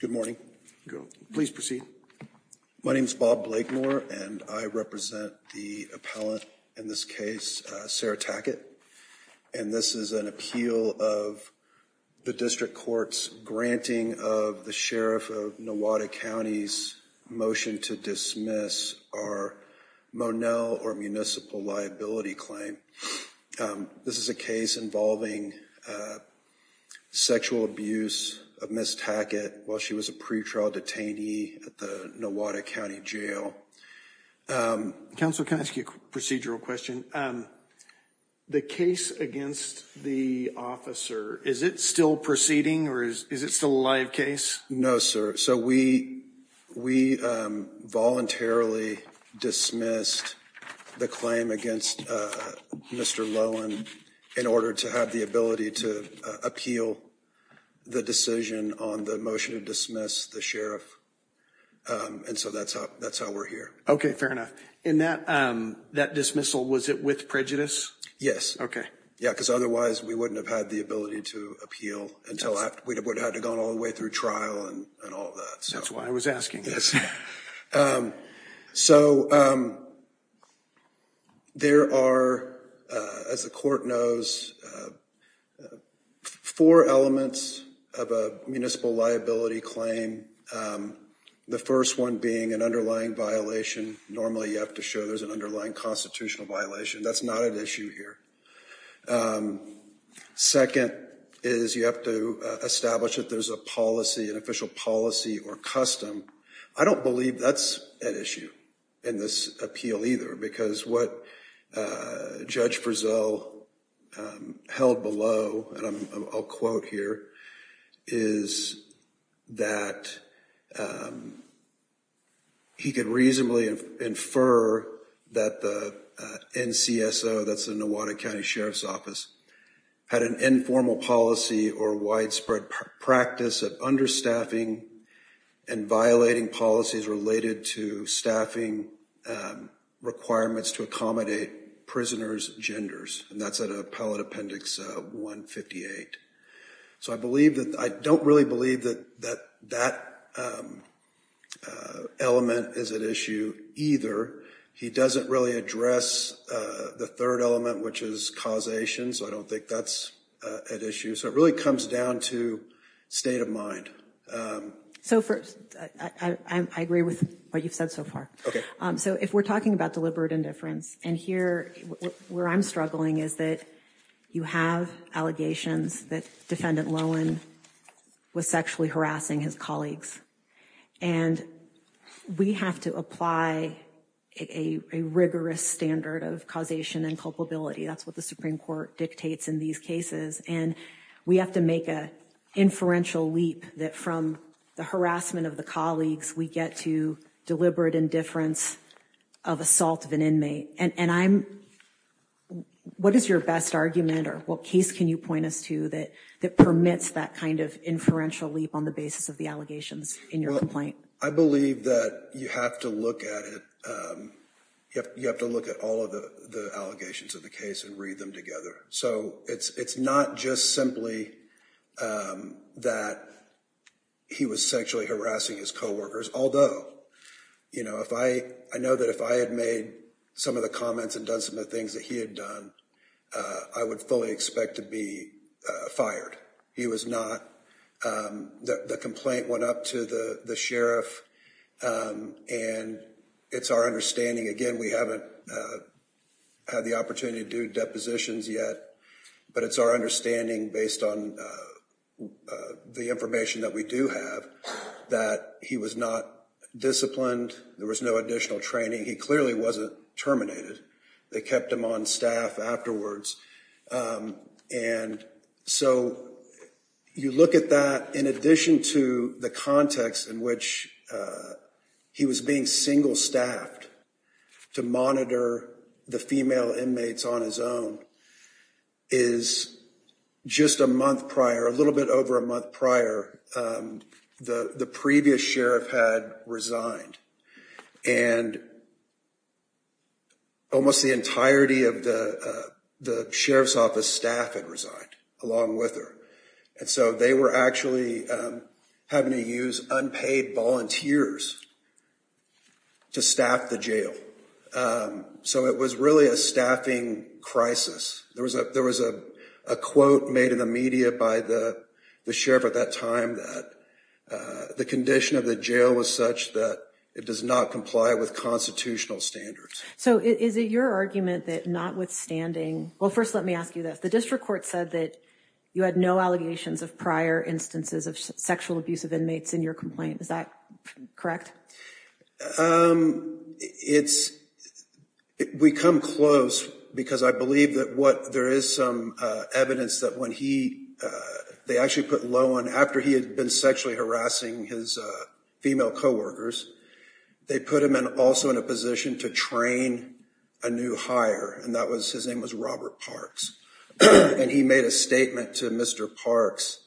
Good morning. Please proceed. My name is Bob Blakemore, and I represent the appellant in this case, Sarah Tackett. And this is an appeal of the district court's granting of the Sheriff of Nowata County's motion to dismiss our Monell or municipal liability claim. This is a case involving sexual abuse of Miss Tackett while she was a pretrial detainee at the Nowata County Jail. Counsel, can I ask you a procedural question? The case against the officer, is it still proceeding or is it still a live case? No, sir. So we we voluntarily dismissed the claim against Mr. Lowen in order to have the ability to appeal the decision on the motion to dismiss the sheriff. And so that's how that's how we're here. OK, fair enough. And that that dismissal, was it with prejudice? Yes. OK. Yeah, because otherwise we wouldn't have had the ability to appeal until we would have gone all the way through trial and all that. That's why I was asking. Yes. So there are, as the court knows, four elements of a municipal liability claim. The first one being an underlying violation. Normally you have to show there's an underlying constitutional violation. That's not an issue here. Second is you have to establish that there's a policy, an official policy or custom. I don't believe that's an issue in this appeal either, because what Judge Brazell held below, and I'll quote here, is that he could reasonably infer that the NCSO, that's the Nowata County Sheriff's Office, had an informal policy or widespread practice of understaffing and violating policies related to staffing requirements to accommodate prisoners' genders. And that's at Appellate Appendix 158. So I believe that I don't really believe that that element is an issue either. He doesn't really address the third element, which is causation. So I don't think that's an issue. So it really comes down to state of mind. So first, I agree with what you've said so far. OK. So if we're talking about deliberate indifference and here where I'm struggling is that you have allegations that Defendant Lowen was sexually harassing his colleagues. And we have to apply a rigorous standard of causation and culpability. That's what the Supreme Court dictates in these cases. And we have to make a inferential leap that from the harassment of the colleagues, we get to deliberate indifference of assault of an inmate. And I'm what is your best argument or what case can you point us to that that permits that kind of inferential leap on the basis of the allegations in your complaint? I believe that you have to look at it. You have to look at all of the allegations of the case and read them together. So it's not just simply that he was sexually harassing his co-workers, although, you know, if I I know that if I had made some of the comments and done some of the things that he had done, I would fully expect to be fired. He was not. The complaint went up to the sheriff. And it's our understanding, again, we haven't had the opportunity to do depositions yet, but it's our understanding, based on the information that we do have, that he was not disciplined. There was no additional training. He clearly wasn't terminated. They kept him on staff afterwards. And so you look at that in addition to the context in which he was being single staffed to monitor the female inmates on his own. Is just a month prior, a little bit over a month prior, the previous sheriff had resigned and. Almost the entirety of the sheriff's office staff had resigned along with her, and so they were actually having to use unpaid volunteers. To staff the jail. So it was really a staffing crisis. There was a there was a quote made in the media by the sheriff at that time that the condition of the jail was such that it does not comply with constitutional standards. So is it your argument that notwithstanding? Well, first, let me ask you this. The district court said that you had no allegations of prior instances of sexual abuse of inmates in your complaint. Is that correct? It's we come close because I believe that what there is some evidence that when he they actually put low on after he had been sexually harassing his female coworkers, they put him in also in a position to train a new hire. And that was his name was Robert Parks, and he made a statement to Mr. Parks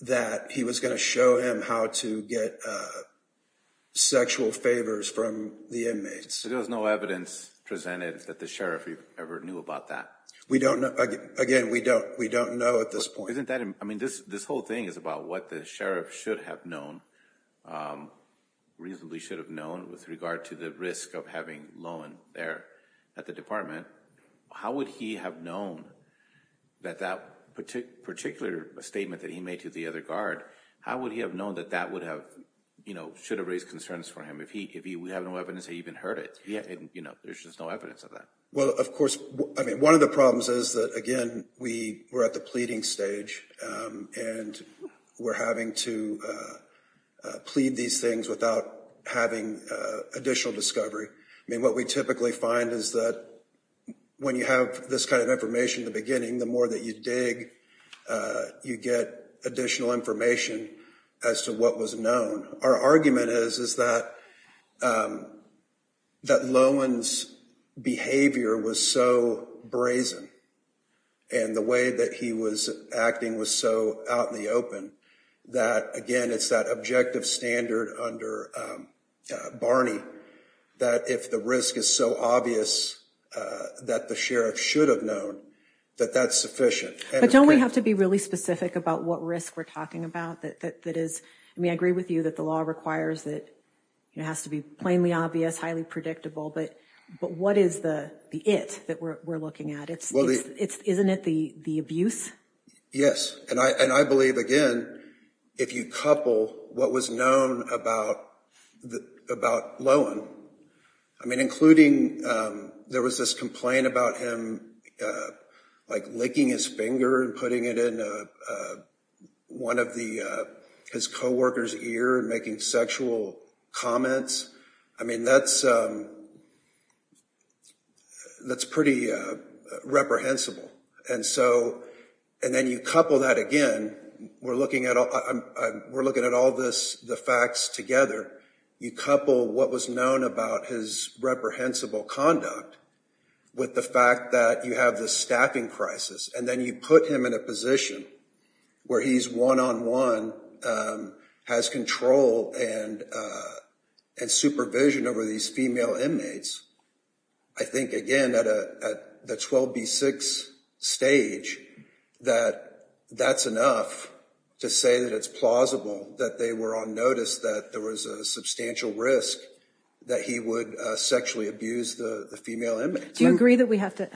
that he was going to show him how to get sexual favors from the inmates. There was no evidence presented that the sheriff ever knew about that. We don't know. Again, we don't we don't know at this point. So isn't that I mean, this this whole thing is about what the sheriff should have known reasonably should have known with regard to the risk of having loan there at the department. How would he have known that that particular statement that he made to the other guard? How would he have known that that would have, you know, should have raised concerns for him if he if he would have no evidence he even heard it. You know, there's just no evidence of that. Well, of course, I mean, one of the problems is that, again, we were at the pleading stage and we're having to plead these things without having additional discovery. I mean, what we typically find is that when you have this kind of information, the beginning, the more that you dig, you get additional information as to what was known. Our argument is, is that that Lowen's behavior was so brazen and the way that he was acting was so out in the open that, again, it's that objective standard under Barney that if the risk is so obvious that the sheriff should have known that that's sufficient. But don't we have to be really specific about what risk we're talking about? That is, I mean, I agree with you that the law requires that it has to be plainly obvious, highly predictable, but but what is the it that we're looking at? Well, isn't it the the abuse? Yes. And I and I believe, again, if you couple what was known about the about Lowen, I mean, including there was this complaint about him like licking his finger and putting it in one of the his co-workers ear and making sexual comments. I mean, that's that's pretty reprehensible. And so and then you couple that again. And we're looking at we're looking at all this, the facts together. You couple what was known about his reprehensible conduct with the fact that you have the staffing crisis and then you put him in a position where he's one on one has control and and supervision over these female inmates. I think, again, that at the 12 B6 stage that that's enough to say that it's plausible that they were on notice that there was a substantial risk that he would sexually abuse the female. Do you agree that we have to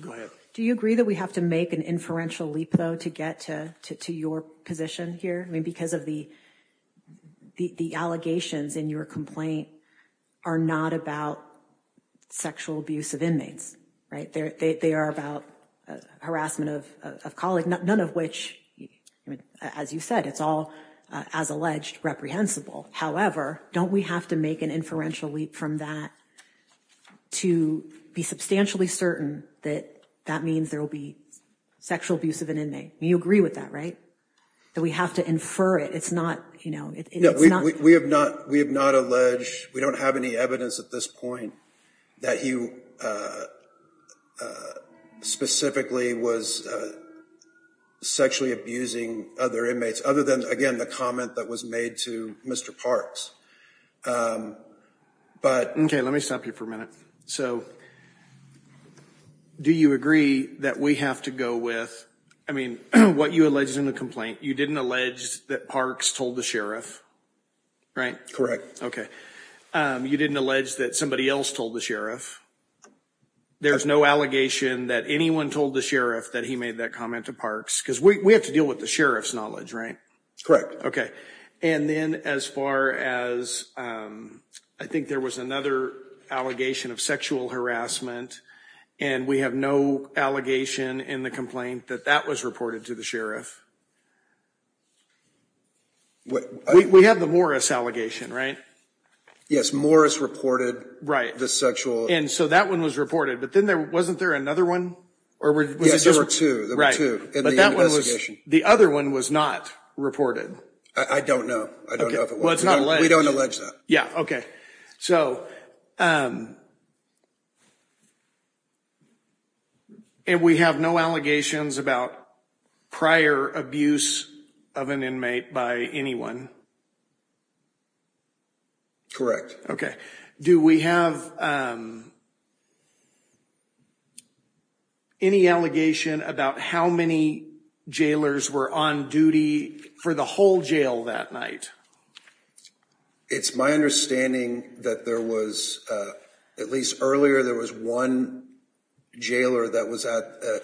go ahead? Do you agree that we have to make an inferential leap, though, to get to your position here? I mean, because of the the allegations in your complaint are not about sexual abuse of inmates. They are about harassment of a colleague, none of which, as you said, it's all, as alleged, reprehensible. However, don't we have to make an inferential leap from that to be substantially certain that that means there will be sexual abuse of an inmate? You agree with that, right, that we have to infer it? It's not, you know, we have not we have not alleged we don't have any evidence at this point that he specifically was sexually abusing other inmates other than, again, the comment that was made to Mr. Parks. But OK, let me stop you for a minute. So do you agree that we have to go with? I mean, what you alleged in the complaint, you didn't allege that Parks told the sheriff. Right. Correct. OK. You didn't allege that somebody else told the sheriff. There's no allegation that anyone told the sheriff that he made that comment to Parks because we have to deal with the sheriff's knowledge. Right. Correct. OK. And then as far as I think there was another allegation of sexual harassment and we have no allegation in the complaint that that was reported to the sheriff. What we have, the Morris allegation, right? Yes. Morris reported. Right. The sexual. And so that one was reported. But then there wasn't there another one or two. Right. But that was the other one was not reported. I don't know. I don't know. Well, it's not like we don't allege that. Yeah. OK. So. And we have no allegations about prior abuse of an inmate by anyone. Correct. OK. Do we have. Any allegation about how many jailers were on duty for the whole jail that night? It's my understanding that there was at least earlier there was one jailer that was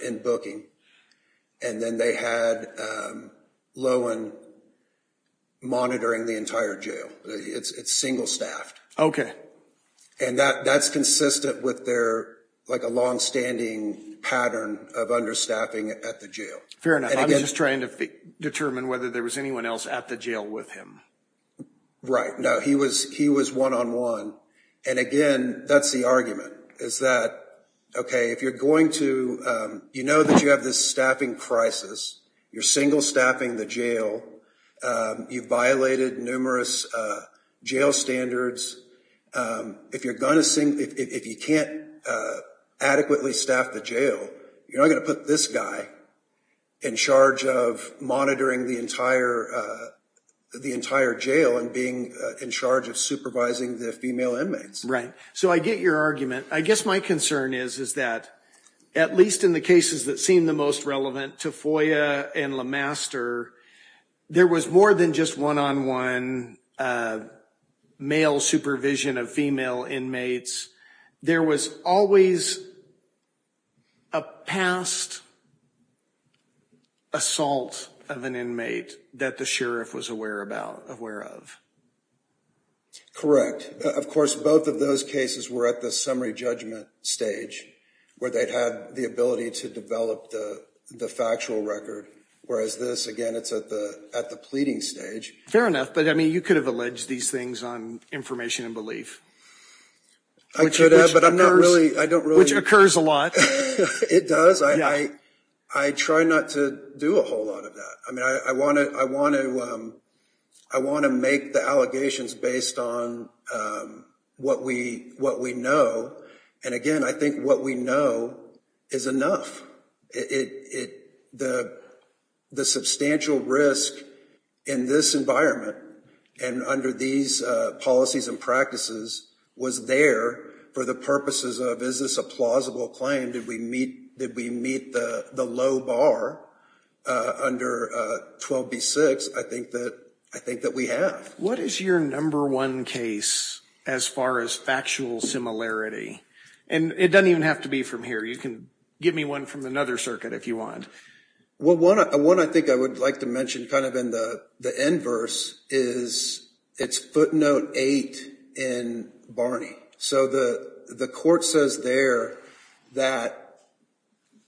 in booking and then they had Lohan monitoring the entire jail. It's single staffed. OK. And that that's consistent with their like a longstanding pattern of understaffing at the jail. Fair enough. I'm just trying to determine whether there was anyone else at the jail with him. In charge of monitoring the entire the entire jail and being in charge of supervising the female inmates. Right. So I get your argument. I guess my concern is, is that at least in the cases that seem the most relevant to FOIA and Le Master, there was more than just one on one male supervision of female inmates. There was always a past assault of an inmate that the sheriff was aware about, aware of. Correct. Of course, both of those cases were at the summary judgment stage where they had the ability to develop the factual record, whereas this again, it's at the at the pleading stage. Fair enough. But I mean, you could have alleged these things on information and belief. I should have, but I'm not really I don't really. Which occurs a lot. It does. I I try not to do a whole lot of that. I mean, I want to I want to I want to make the allegations based on what we what we know. And again, I think what we know is enough. It the the substantial risk in this environment and under these policies and practices was there for the purposes of is this a plausible claim? Did we meet? Did we meet the low bar under 12B6? I think that I think that we have. What is your number one case as far as factual similarity? And it doesn't even have to be from here. You can give me one from another circuit if you want. Well, one one, I think I would like to mention kind of in the the inverse is it's footnote eight in Barney. So the the court says there that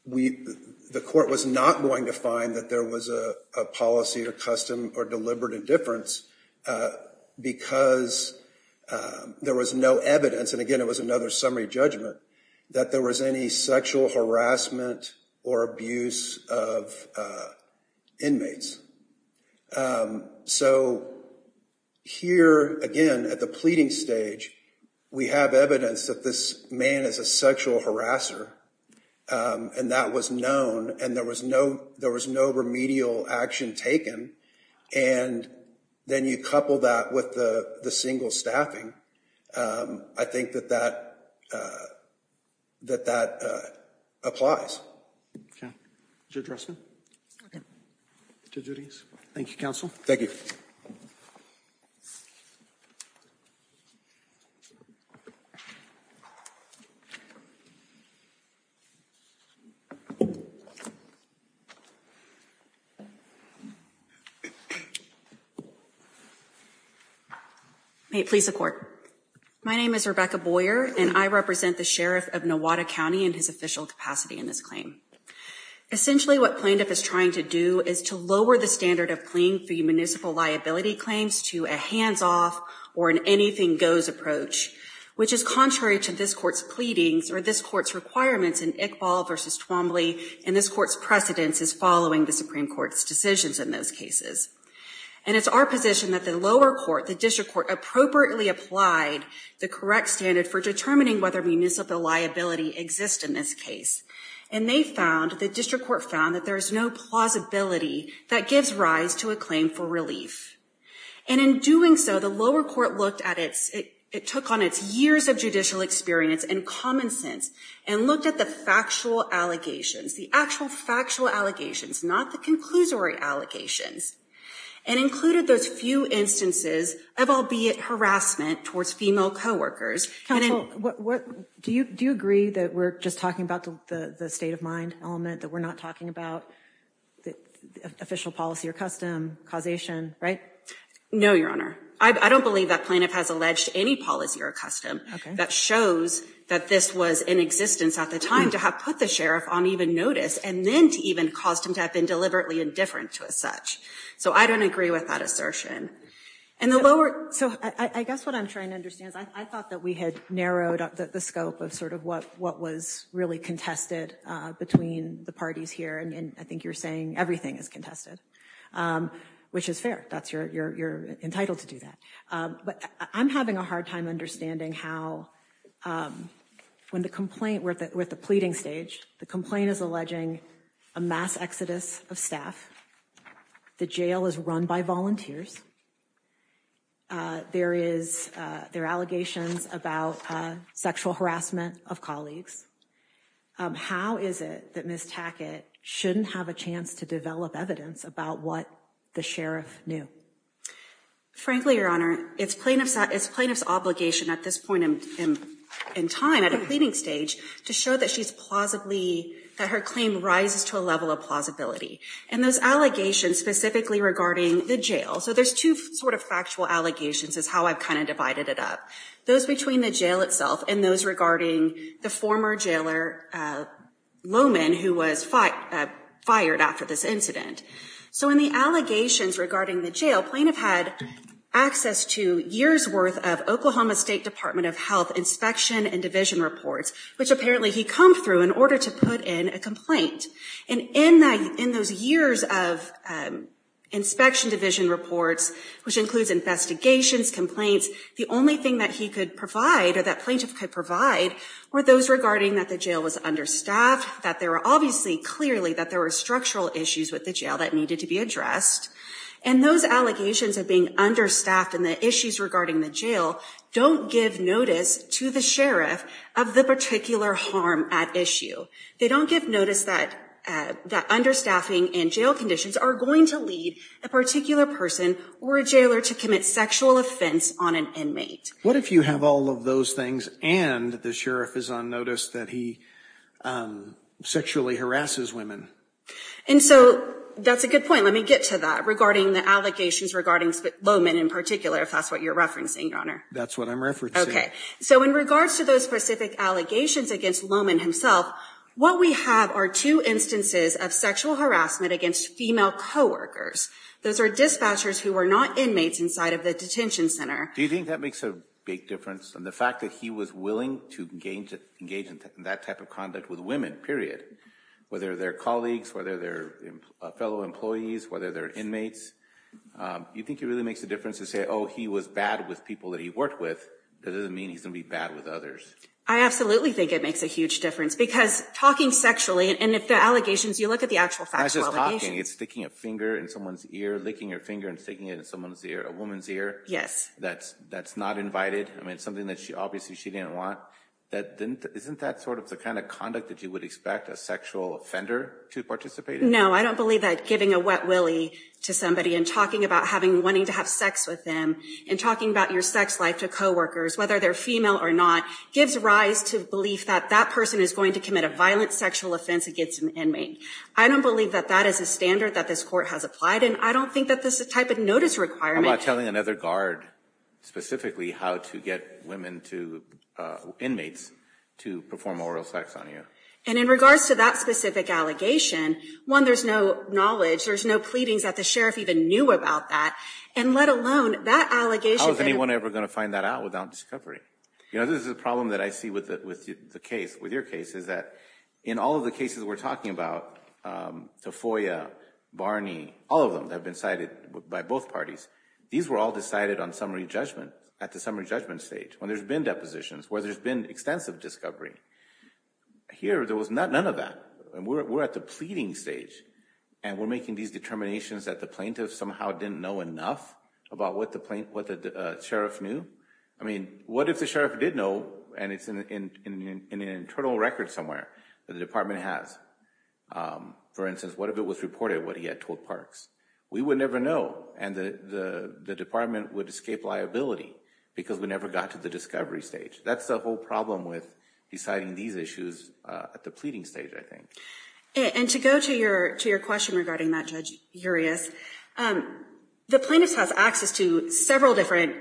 we the court was not going to find that there was a policy or custom or deliberate indifference because there was no evidence. And again, it was another summary judgment that there was any sexual harassment or abuse of inmates. So here again at the pleading stage, we have evidence that this man is a sexual harasser and that was known and there was no there was no remedial action taken. And then you couple that with the single staffing. I think that that that that applies. Address me to do these. Thank you, counsel. Thank you. Please support. My name is Rebecca Boyer, and I represent the sheriff of Nevada County in his official capacity in this claim. Essentially, what plaintiff is trying to do is to lower the standard of playing for municipal liability claims to a hands off or an anything goes approach, which is contrary to this court's pleadings or this court's requirements in Iqbal versus Twombly. And this court's precedence is following the Supreme Court's decisions in those cases. And it's our position that the lower court, the district court appropriately applied the correct standard for determining whether municipal liability exists in this case. And they found the district court found that there is no plausibility that gives rise to a claim for relief. And in doing so, the lower court looked at it. It took on its years of judicial experience and common sense and looked at the factual allegations, the actual factual allegations, not the conclusory allegations and included those few instances of albeit harassment towards female coworkers. What do you do? Agree that we're just talking about the state of mind element that we're not talking about the official policy or custom causation. Right. No, Your Honor. I don't believe that plaintiff has alleged any policy or custom that shows that this was in existence at the time to have put the sheriff on even notice and then to even cost him to have been deliberately indifferent to as such. So I don't agree with that assertion. And the lower. So I guess what I'm trying to understand is I thought that we had narrowed the scope of sort of what what was really contested between the parties here. And I think you're saying everything is contested, which is fair. That's your you're entitled to do that. But I'm having a hard time understanding how when the complaint with the pleading stage, the complaint is alleging a mass exodus of staff. The jail is run by volunteers. There is there allegations about sexual harassment of colleagues. How is it that Miss Tackett shouldn't have a chance to develop evidence about what the sheriff knew? Frankly, Your Honor, it's plaintiff's it's plaintiff's obligation at this point in time at a pleading stage to show that she's plausibly that her claim rises to a level of plausibility. And those allegations specifically regarding the jail. So there's two sort of factual allegations is how I've kind of divided it up. Those between the jail itself and those regarding the former jailer Lowman, who was fired after this incident. So in the allegations regarding the jail, plaintiff had access to years worth of Oklahoma State Department of Health inspection and division reports, which apparently he come through in order to put in a complaint. And in those years of inspection division reports, which includes investigations, complaints, the only thing that he could provide or that plaintiff could provide were those regarding that the jail was understaffed. That there are obviously clearly that there were structural issues with the jail that needed to be addressed. And those allegations of being understaffed and the issues regarding the jail don't give notice to the sheriff of the particular harm at issue. They don't give notice that that understaffing and jail conditions are going to lead a particular person or a jailer to commit sexual offense on an inmate. What if you have all of those things and the sheriff is on notice that he sexually harasses women? And so that's a good point. Let me get to that regarding the allegations regarding Lowman in particular, if that's what you're referencing, Your Honor. That's what I'm referencing. So in regards to those specific allegations against Lowman himself, what we have are two instances of sexual harassment against female coworkers. Those are dispatchers who were not inmates inside of the detention center. Do you think that makes a big difference? And the fact that he was willing to engage in that type of conduct with women, period. Whether they're colleagues, whether they're fellow employees, whether they're inmates. Do you think it really makes a difference to say, oh, he was bad with people that he worked with? That doesn't mean he's going to be bad with others. I absolutely think it makes a huge difference because talking sexually and if the allegations, you look at the actual factual allegations. It's not just talking, it's sticking a finger in someone's ear, licking your finger and sticking it in someone's ear, a woman's ear. Yes. That's not invited. I mean, it's something that obviously she didn't want. Isn't that sort of the kind of conduct that you would expect a sexual offender to participate in? No, I don't believe that giving a wet willy to somebody and talking about wanting to have sex with them and talking about your sex life to coworkers, whether they're female or not, gives rise to belief that that person is going to commit a violent sexual offense against an inmate. I don't believe that that is a standard that this court has applied and I don't think that this is a type of notice requirement. I'm talking about telling another guard specifically how to get women to, inmates, to perform oral sex on you. And in regards to that specific allegation, one, there's no knowledge, there's no pleadings that the sheriff even knew about that and let alone that allegation. How is anyone ever going to find that out without discovery? You know, this is a problem that I see with the case, with your case, is that in all of the cases we're talking about, Tafoya, Barney, all of them that have been cited by both parties, these were all decided on summary judgment, at the summary judgment stage, when there's been depositions, where there's been extensive discovery. Here, there was none of that. We're at the pleading stage and we're making these determinations that the plaintiff somehow didn't know enough about what the sheriff knew. I mean, what if the sheriff did know and it's in an internal record somewhere that the department has? For instance, what if it was reported what he had told Parks? We would never know and the department would escape liability because we never got to the discovery stage. That's the whole problem with deciding these issues at the pleading stage, I think. And to go to your question regarding that, Judge Urias, the plaintiffs have access to several different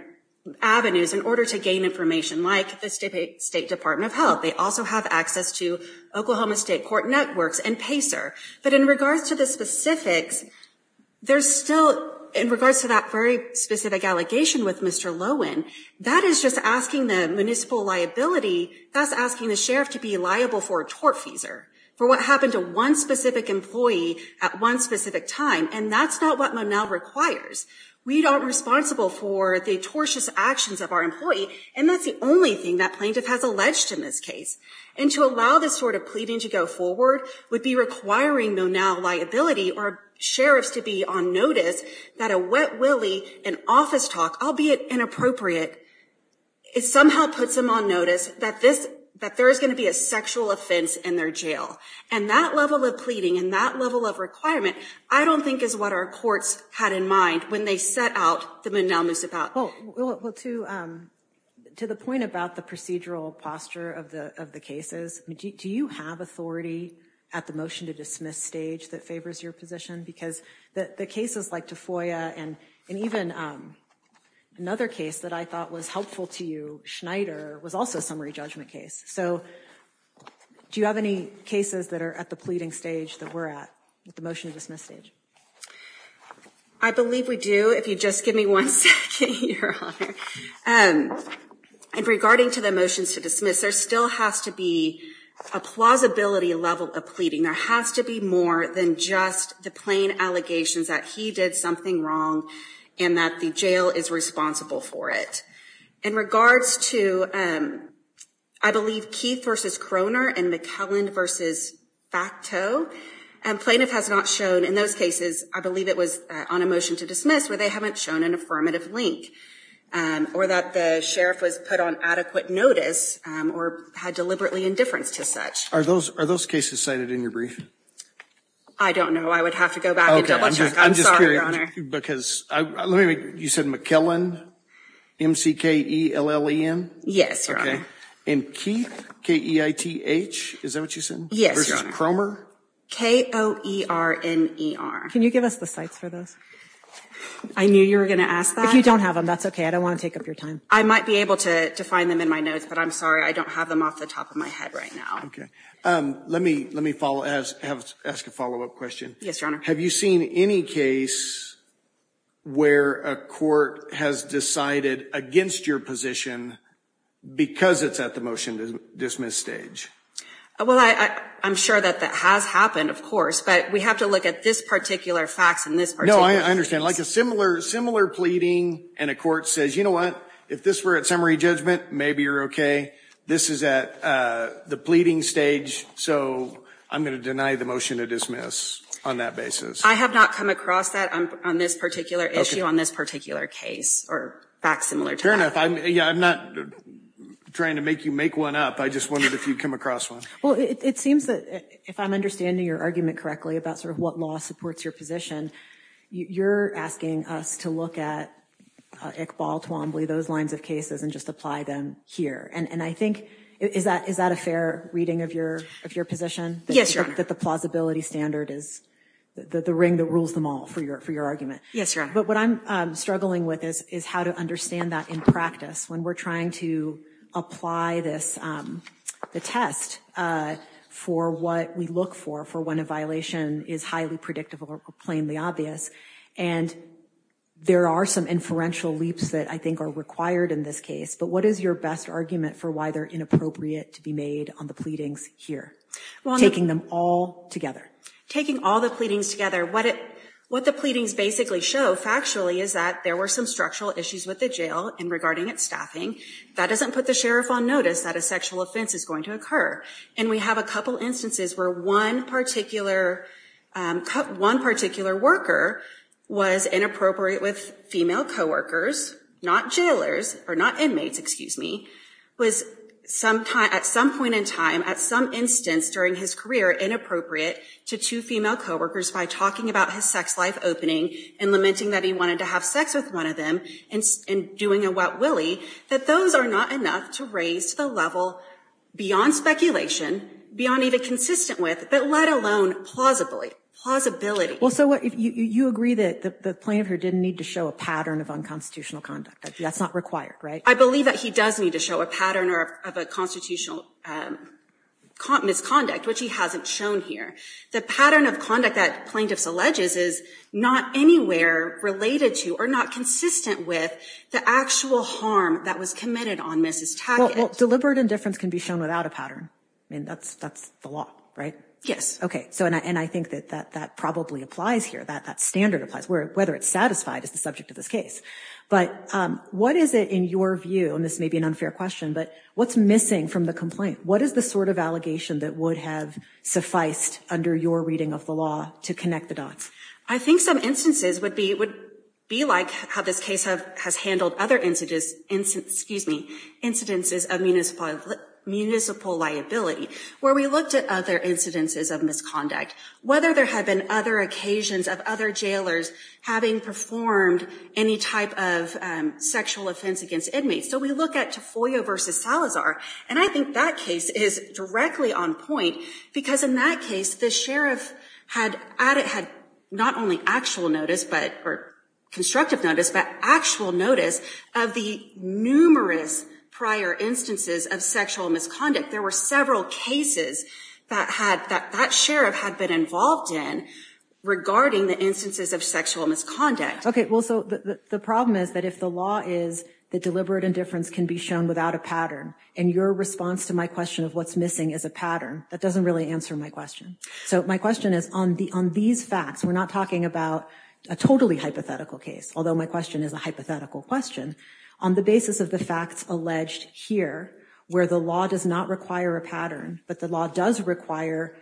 avenues in order to gain information, like the State Department of Health. They also have access to Oklahoma State Court Networks and PACER. But in regards to the specifics, there's still, in regards to that very specific allegation with Mr. Lowen, that is just asking the municipal liability, that's asking the sheriff to be liable for a tort feeser. For what happened to one specific employee at one specific time. And that's not what Monell requires. We aren't responsible for the tortious actions of our employee. And that's the only thing that plaintiff has alleged in this case. And to allow this sort of pleading to go forward would be requiring Monell liability or sheriffs to be on notice that a wet willy in office talk, albeit inappropriate, it somehow puts them on notice that there is going to be a sexual offense in their jail. And that level of pleading and that level of requirement, I don't think is what our courts had in mind when they set out the Monell Moosevelt. Well, to the point about the procedural posture of the cases, do you have authority at the motion to dismiss stage that favors your position? Because the cases like Tafoya and even another case that I thought was helpful to you, Schneider, was also a summary judgment case. So do you have any cases that are at the pleading stage that we're at with the motion to dismiss stage? I believe we do. If you just give me one second. And regarding to the motions to dismiss, there still has to be a plausibility level of pleading. There has to be more than just the plain allegations that he did something wrong and that the jail is responsible for it. In regards to, I believe, Keith v. Croner and McKelland v. Factot, plaintiff has not shown in those cases, I believe it was on a motion to dismiss, where they haven't shown an affirmative link. Or that the sheriff was put on adequate notice or had deliberately indifference to such. Are those cases cited in your brief? I don't know. I would have to go back and double check. I'm sorry, Your Honor. Because you said McKelland, M-C-K-E-L-L-E-N? Yes, Your Honor. And Keith, K-E-I-T-H, is that what you said? Yes, Your Honor. Versus Croner? K-O-E-R-N-E-R. Can you give us the sites for those? I knew you were going to ask that. If you don't have them, that's okay. I don't want to take up your time. I might be able to find them in my notes, but I'm sorry. I don't have them off the top of my head right now. Okay. Let me ask a follow-up question. Yes, Your Honor. Have you seen any case where a court has decided against your position because it's at the motion-to-dismiss stage? Well, I'm sure that that has happened, of course. But we have to look at this particular fax and this particular case. No, I understand. Like a similar pleading and a court says, you know what, if this were at summary judgment, maybe you're okay. This is at the pleading stage, so I'm going to deny the motion-to-dismiss on that basis. I have not come across that on this particular issue, on this particular case or fax similar to that. I'm not trying to make you make one up. I just wondered if you'd come across one. Well, it seems that if I'm understanding your argument correctly about sort of what law supports your position, you're asking us to look at Iqbal, Twombly, those lines of cases and just apply them here. And I think, is that a fair reading of your position? Yes, Your Honor. That the plausibility standard is the ring that rules them all for your argument? Yes, Your Honor. But what I'm struggling with is how to understand that in practice when we're trying to apply this, the test for what we look for, for when a violation is highly predictable or plainly obvious. And there are some inferential leaps that I think are required in this case. But what is your best argument for why they're inappropriate to be made on the pleadings here? Taking them all together. Taking all the pleadings together, what the pleadings basically show factually is that there were some structural issues with the jail and regarding its staffing. That doesn't put the sheriff on notice that a sexual offense is going to occur. And we have a couple instances where one particular worker was inappropriate with female co-workers, not jailers, or not inmates, excuse me, was at some point in time, at some instance during his career, inappropriate to two female co-workers by talking about his sex life opening and lamenting that he wanted to have sex with one of them and doing a wet willy. That those are not enough to raise the level beyond speculation, beyond even consistent with, but let alone plausibly, plausibility. Well, so what, you agree that the plaintiff here didn't need to show a pattern of unconstitutional conduct. That's not required, right? I believe that he does need to show a pattern of a constitutional misconduct, which he hasn't shown here. The pattern of conduct that plaintiffs alleges is not anywhere related to or not consistent with the actual harm that was committed on Mrs. Tackett. Well, deliberate indifference can be shown without a pattern. I mean, that's the law, right? Yes. Okay. So, and I think that that probably applies here. That standard applies. Whether it's satisfied is the subject of this case. But what is it in your view, and this may be an unfair question, but what's missing from the complaint? What is the sort of allegation that would have sufficed under your reading of the law to connect the dots? I think some instances would be like how this case has handled other incidences of municipal liability. Where we looked at other incidences of misconduct. Whether there had been other occasions of other jailers having performed any type of sexual offense against inmates. So we look at Tafoya v. Salazar, and I think that case is directly on point. Because in that case, the sheriff had not only actual notice, or constructive notice, but actual notice of the numerous prior instances of sexual misconduct. There were several cases that that sheriff had been involved in regarding the instances of sexual misconduct. Okay, well, so the problem is that if the law is that deliberate indifference can be shown without a pattern, and your response to my question of what's missing is a pattern, that doesn't really answer my question. So my question is on these facts, we're not talking about a totally hypothetical case. Although my question is a hypothetical question. On the basis of the facts alleged here, where the law does not require a pattern, but the law does require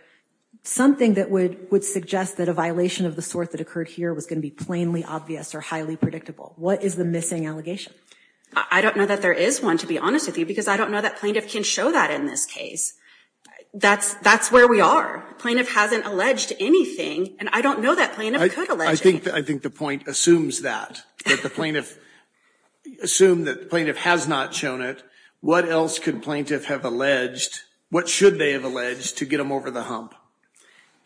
something that would suggest that a violation of the sort that occurred here was going to be plainly obvious or highly predictable. What is the missing allegation? I don't know that there is one, to be honest with you, because I don't know that plaintiff can show that in this case. That's where we are. Plaintiff hasn't alleged anything, and I don't know that plaintiff could allege it. I think the point assumes that, that the plaintiff assumed that the plaintiff has not shown it. What else could plaintiff have alleged? What should they have alleged to get them over the hump?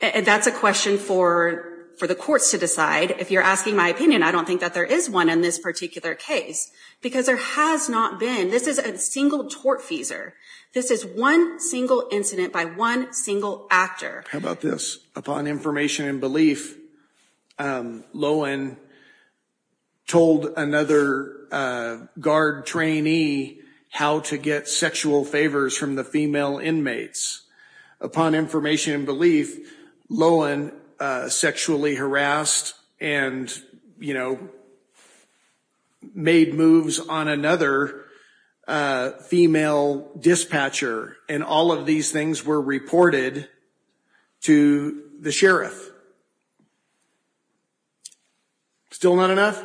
That's a question for the courts to decide. If you're asking my opinion, I don't think that there is one in this particular case, because there has not been. This is a single tortfeasor. This is one single incident by one single actor. How about this? Upon information and belief, Lohan told another guard trainee how to get sexual favors from the female inmates. Upon information and belief, Lohan sexually harassed and, you know, made moves on another female dispatcher, and all of these things were reported to the sheriff. Still not enough?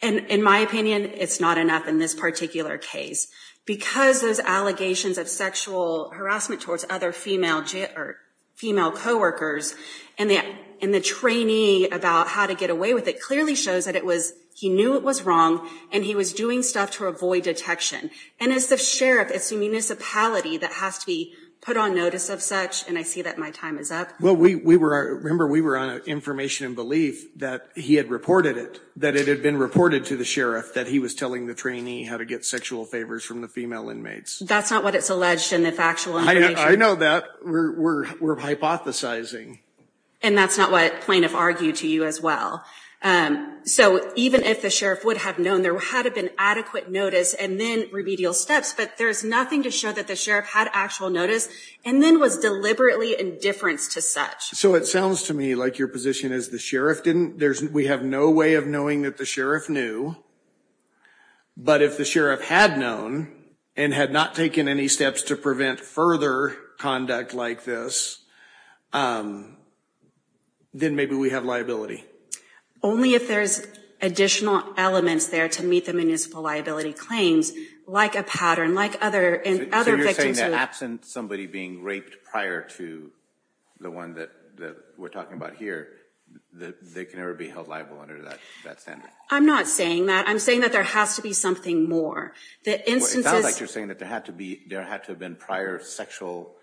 In my opinion, it's not enough in this particular case. Because those allegations of sexual harassment towards other female co-workers, and the trainee about how to get away with it clearly shows that he knew it was wrong, and he was doing stuff to avoid detection. And as the sheriff, it's the municipality that has to be put on notice of such, and I see that my time is up. Well, remember, we were on information and belief that he had reported it, that it had been reported to the sheriff that he was telling the trainee how to get sexual favors from the female inmates. That's not what it's alleged in the factual information. I know that. We're hypothesizing. And that's not what plaintiff argued to you as well. So even if the sheriff would have known, there had to have been adequate notice, and then remedial steps. But there's nothing to show that the sheriff had actual notice, and then was deliberately indifference to such. So it sounds to me like your position is the sheriff didn't. We have no way of knowing that the sheriff knew. But if the sheriff had known and had not taken any steps to prevent further conduct like this, then maybe we have liability. Only if there's additional elements there to meet the municipal liability claims, like a pattern, like other victims. So you're saying that absent somebody being raped prior to the one that we're talking about here, that they can never be held liable under that standard? I'm not saying that. I'm saying that there has to be something more. It sounds like you're saying that there had to have been prior sexual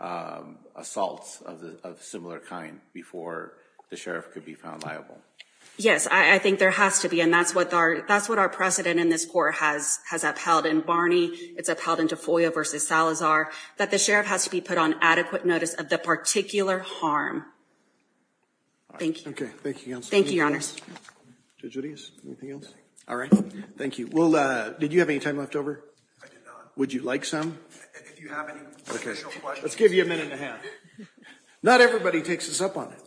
assaults of a similar kind before the sheriff could be found liable. Yes, I think there has to be. And that's what our precedent in this court has upheld in Barney. It's upheld in Tafoya v. Salazar, that the sheriff has to be put on adequate notice of the particular harm. Thank you. Thank you, Counsel. Thank you, Your Honors. Judge Rodriguez, anything else? All right. Thank you. Well, did you have any time left over? I did not. Would you like some? If you have any additional questions. Let's give you a minute and a half. Not everybody takes this up on it.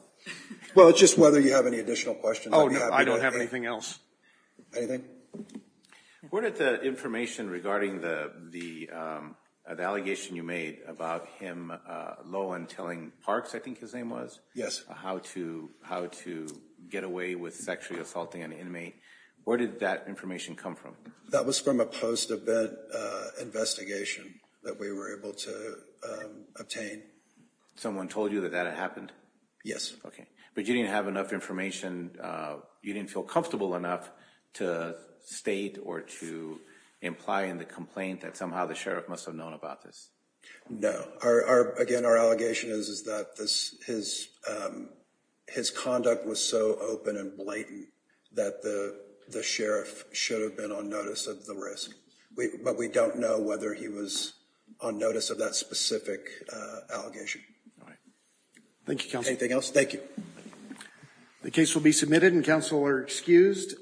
Well, it's just whether you have any additional questions. Oh, no, I don't have anything else. Anything? Where did the information regarding the allegation you made about him low and telling Parks, I think his name was? How to get away with sexually assaulting an inmate, where did that information come from? That was from a post-event investigation that we were able to obtain. Someone told you that that had happened? Yes. Okay. But you didn't have enough information, you didn't feel comfortable enough to state or to imply in the complaint that somehow the sheriff must have known about this? No. Again, our allegation is that his conduct was so open and blatant that the sheriff should have been on notice of the risk. But we don't know whether he was on notice of that specific allegation. All right. Thank you, Counsel. Anything else? Thank you. The case will be submitted and counsel are excused.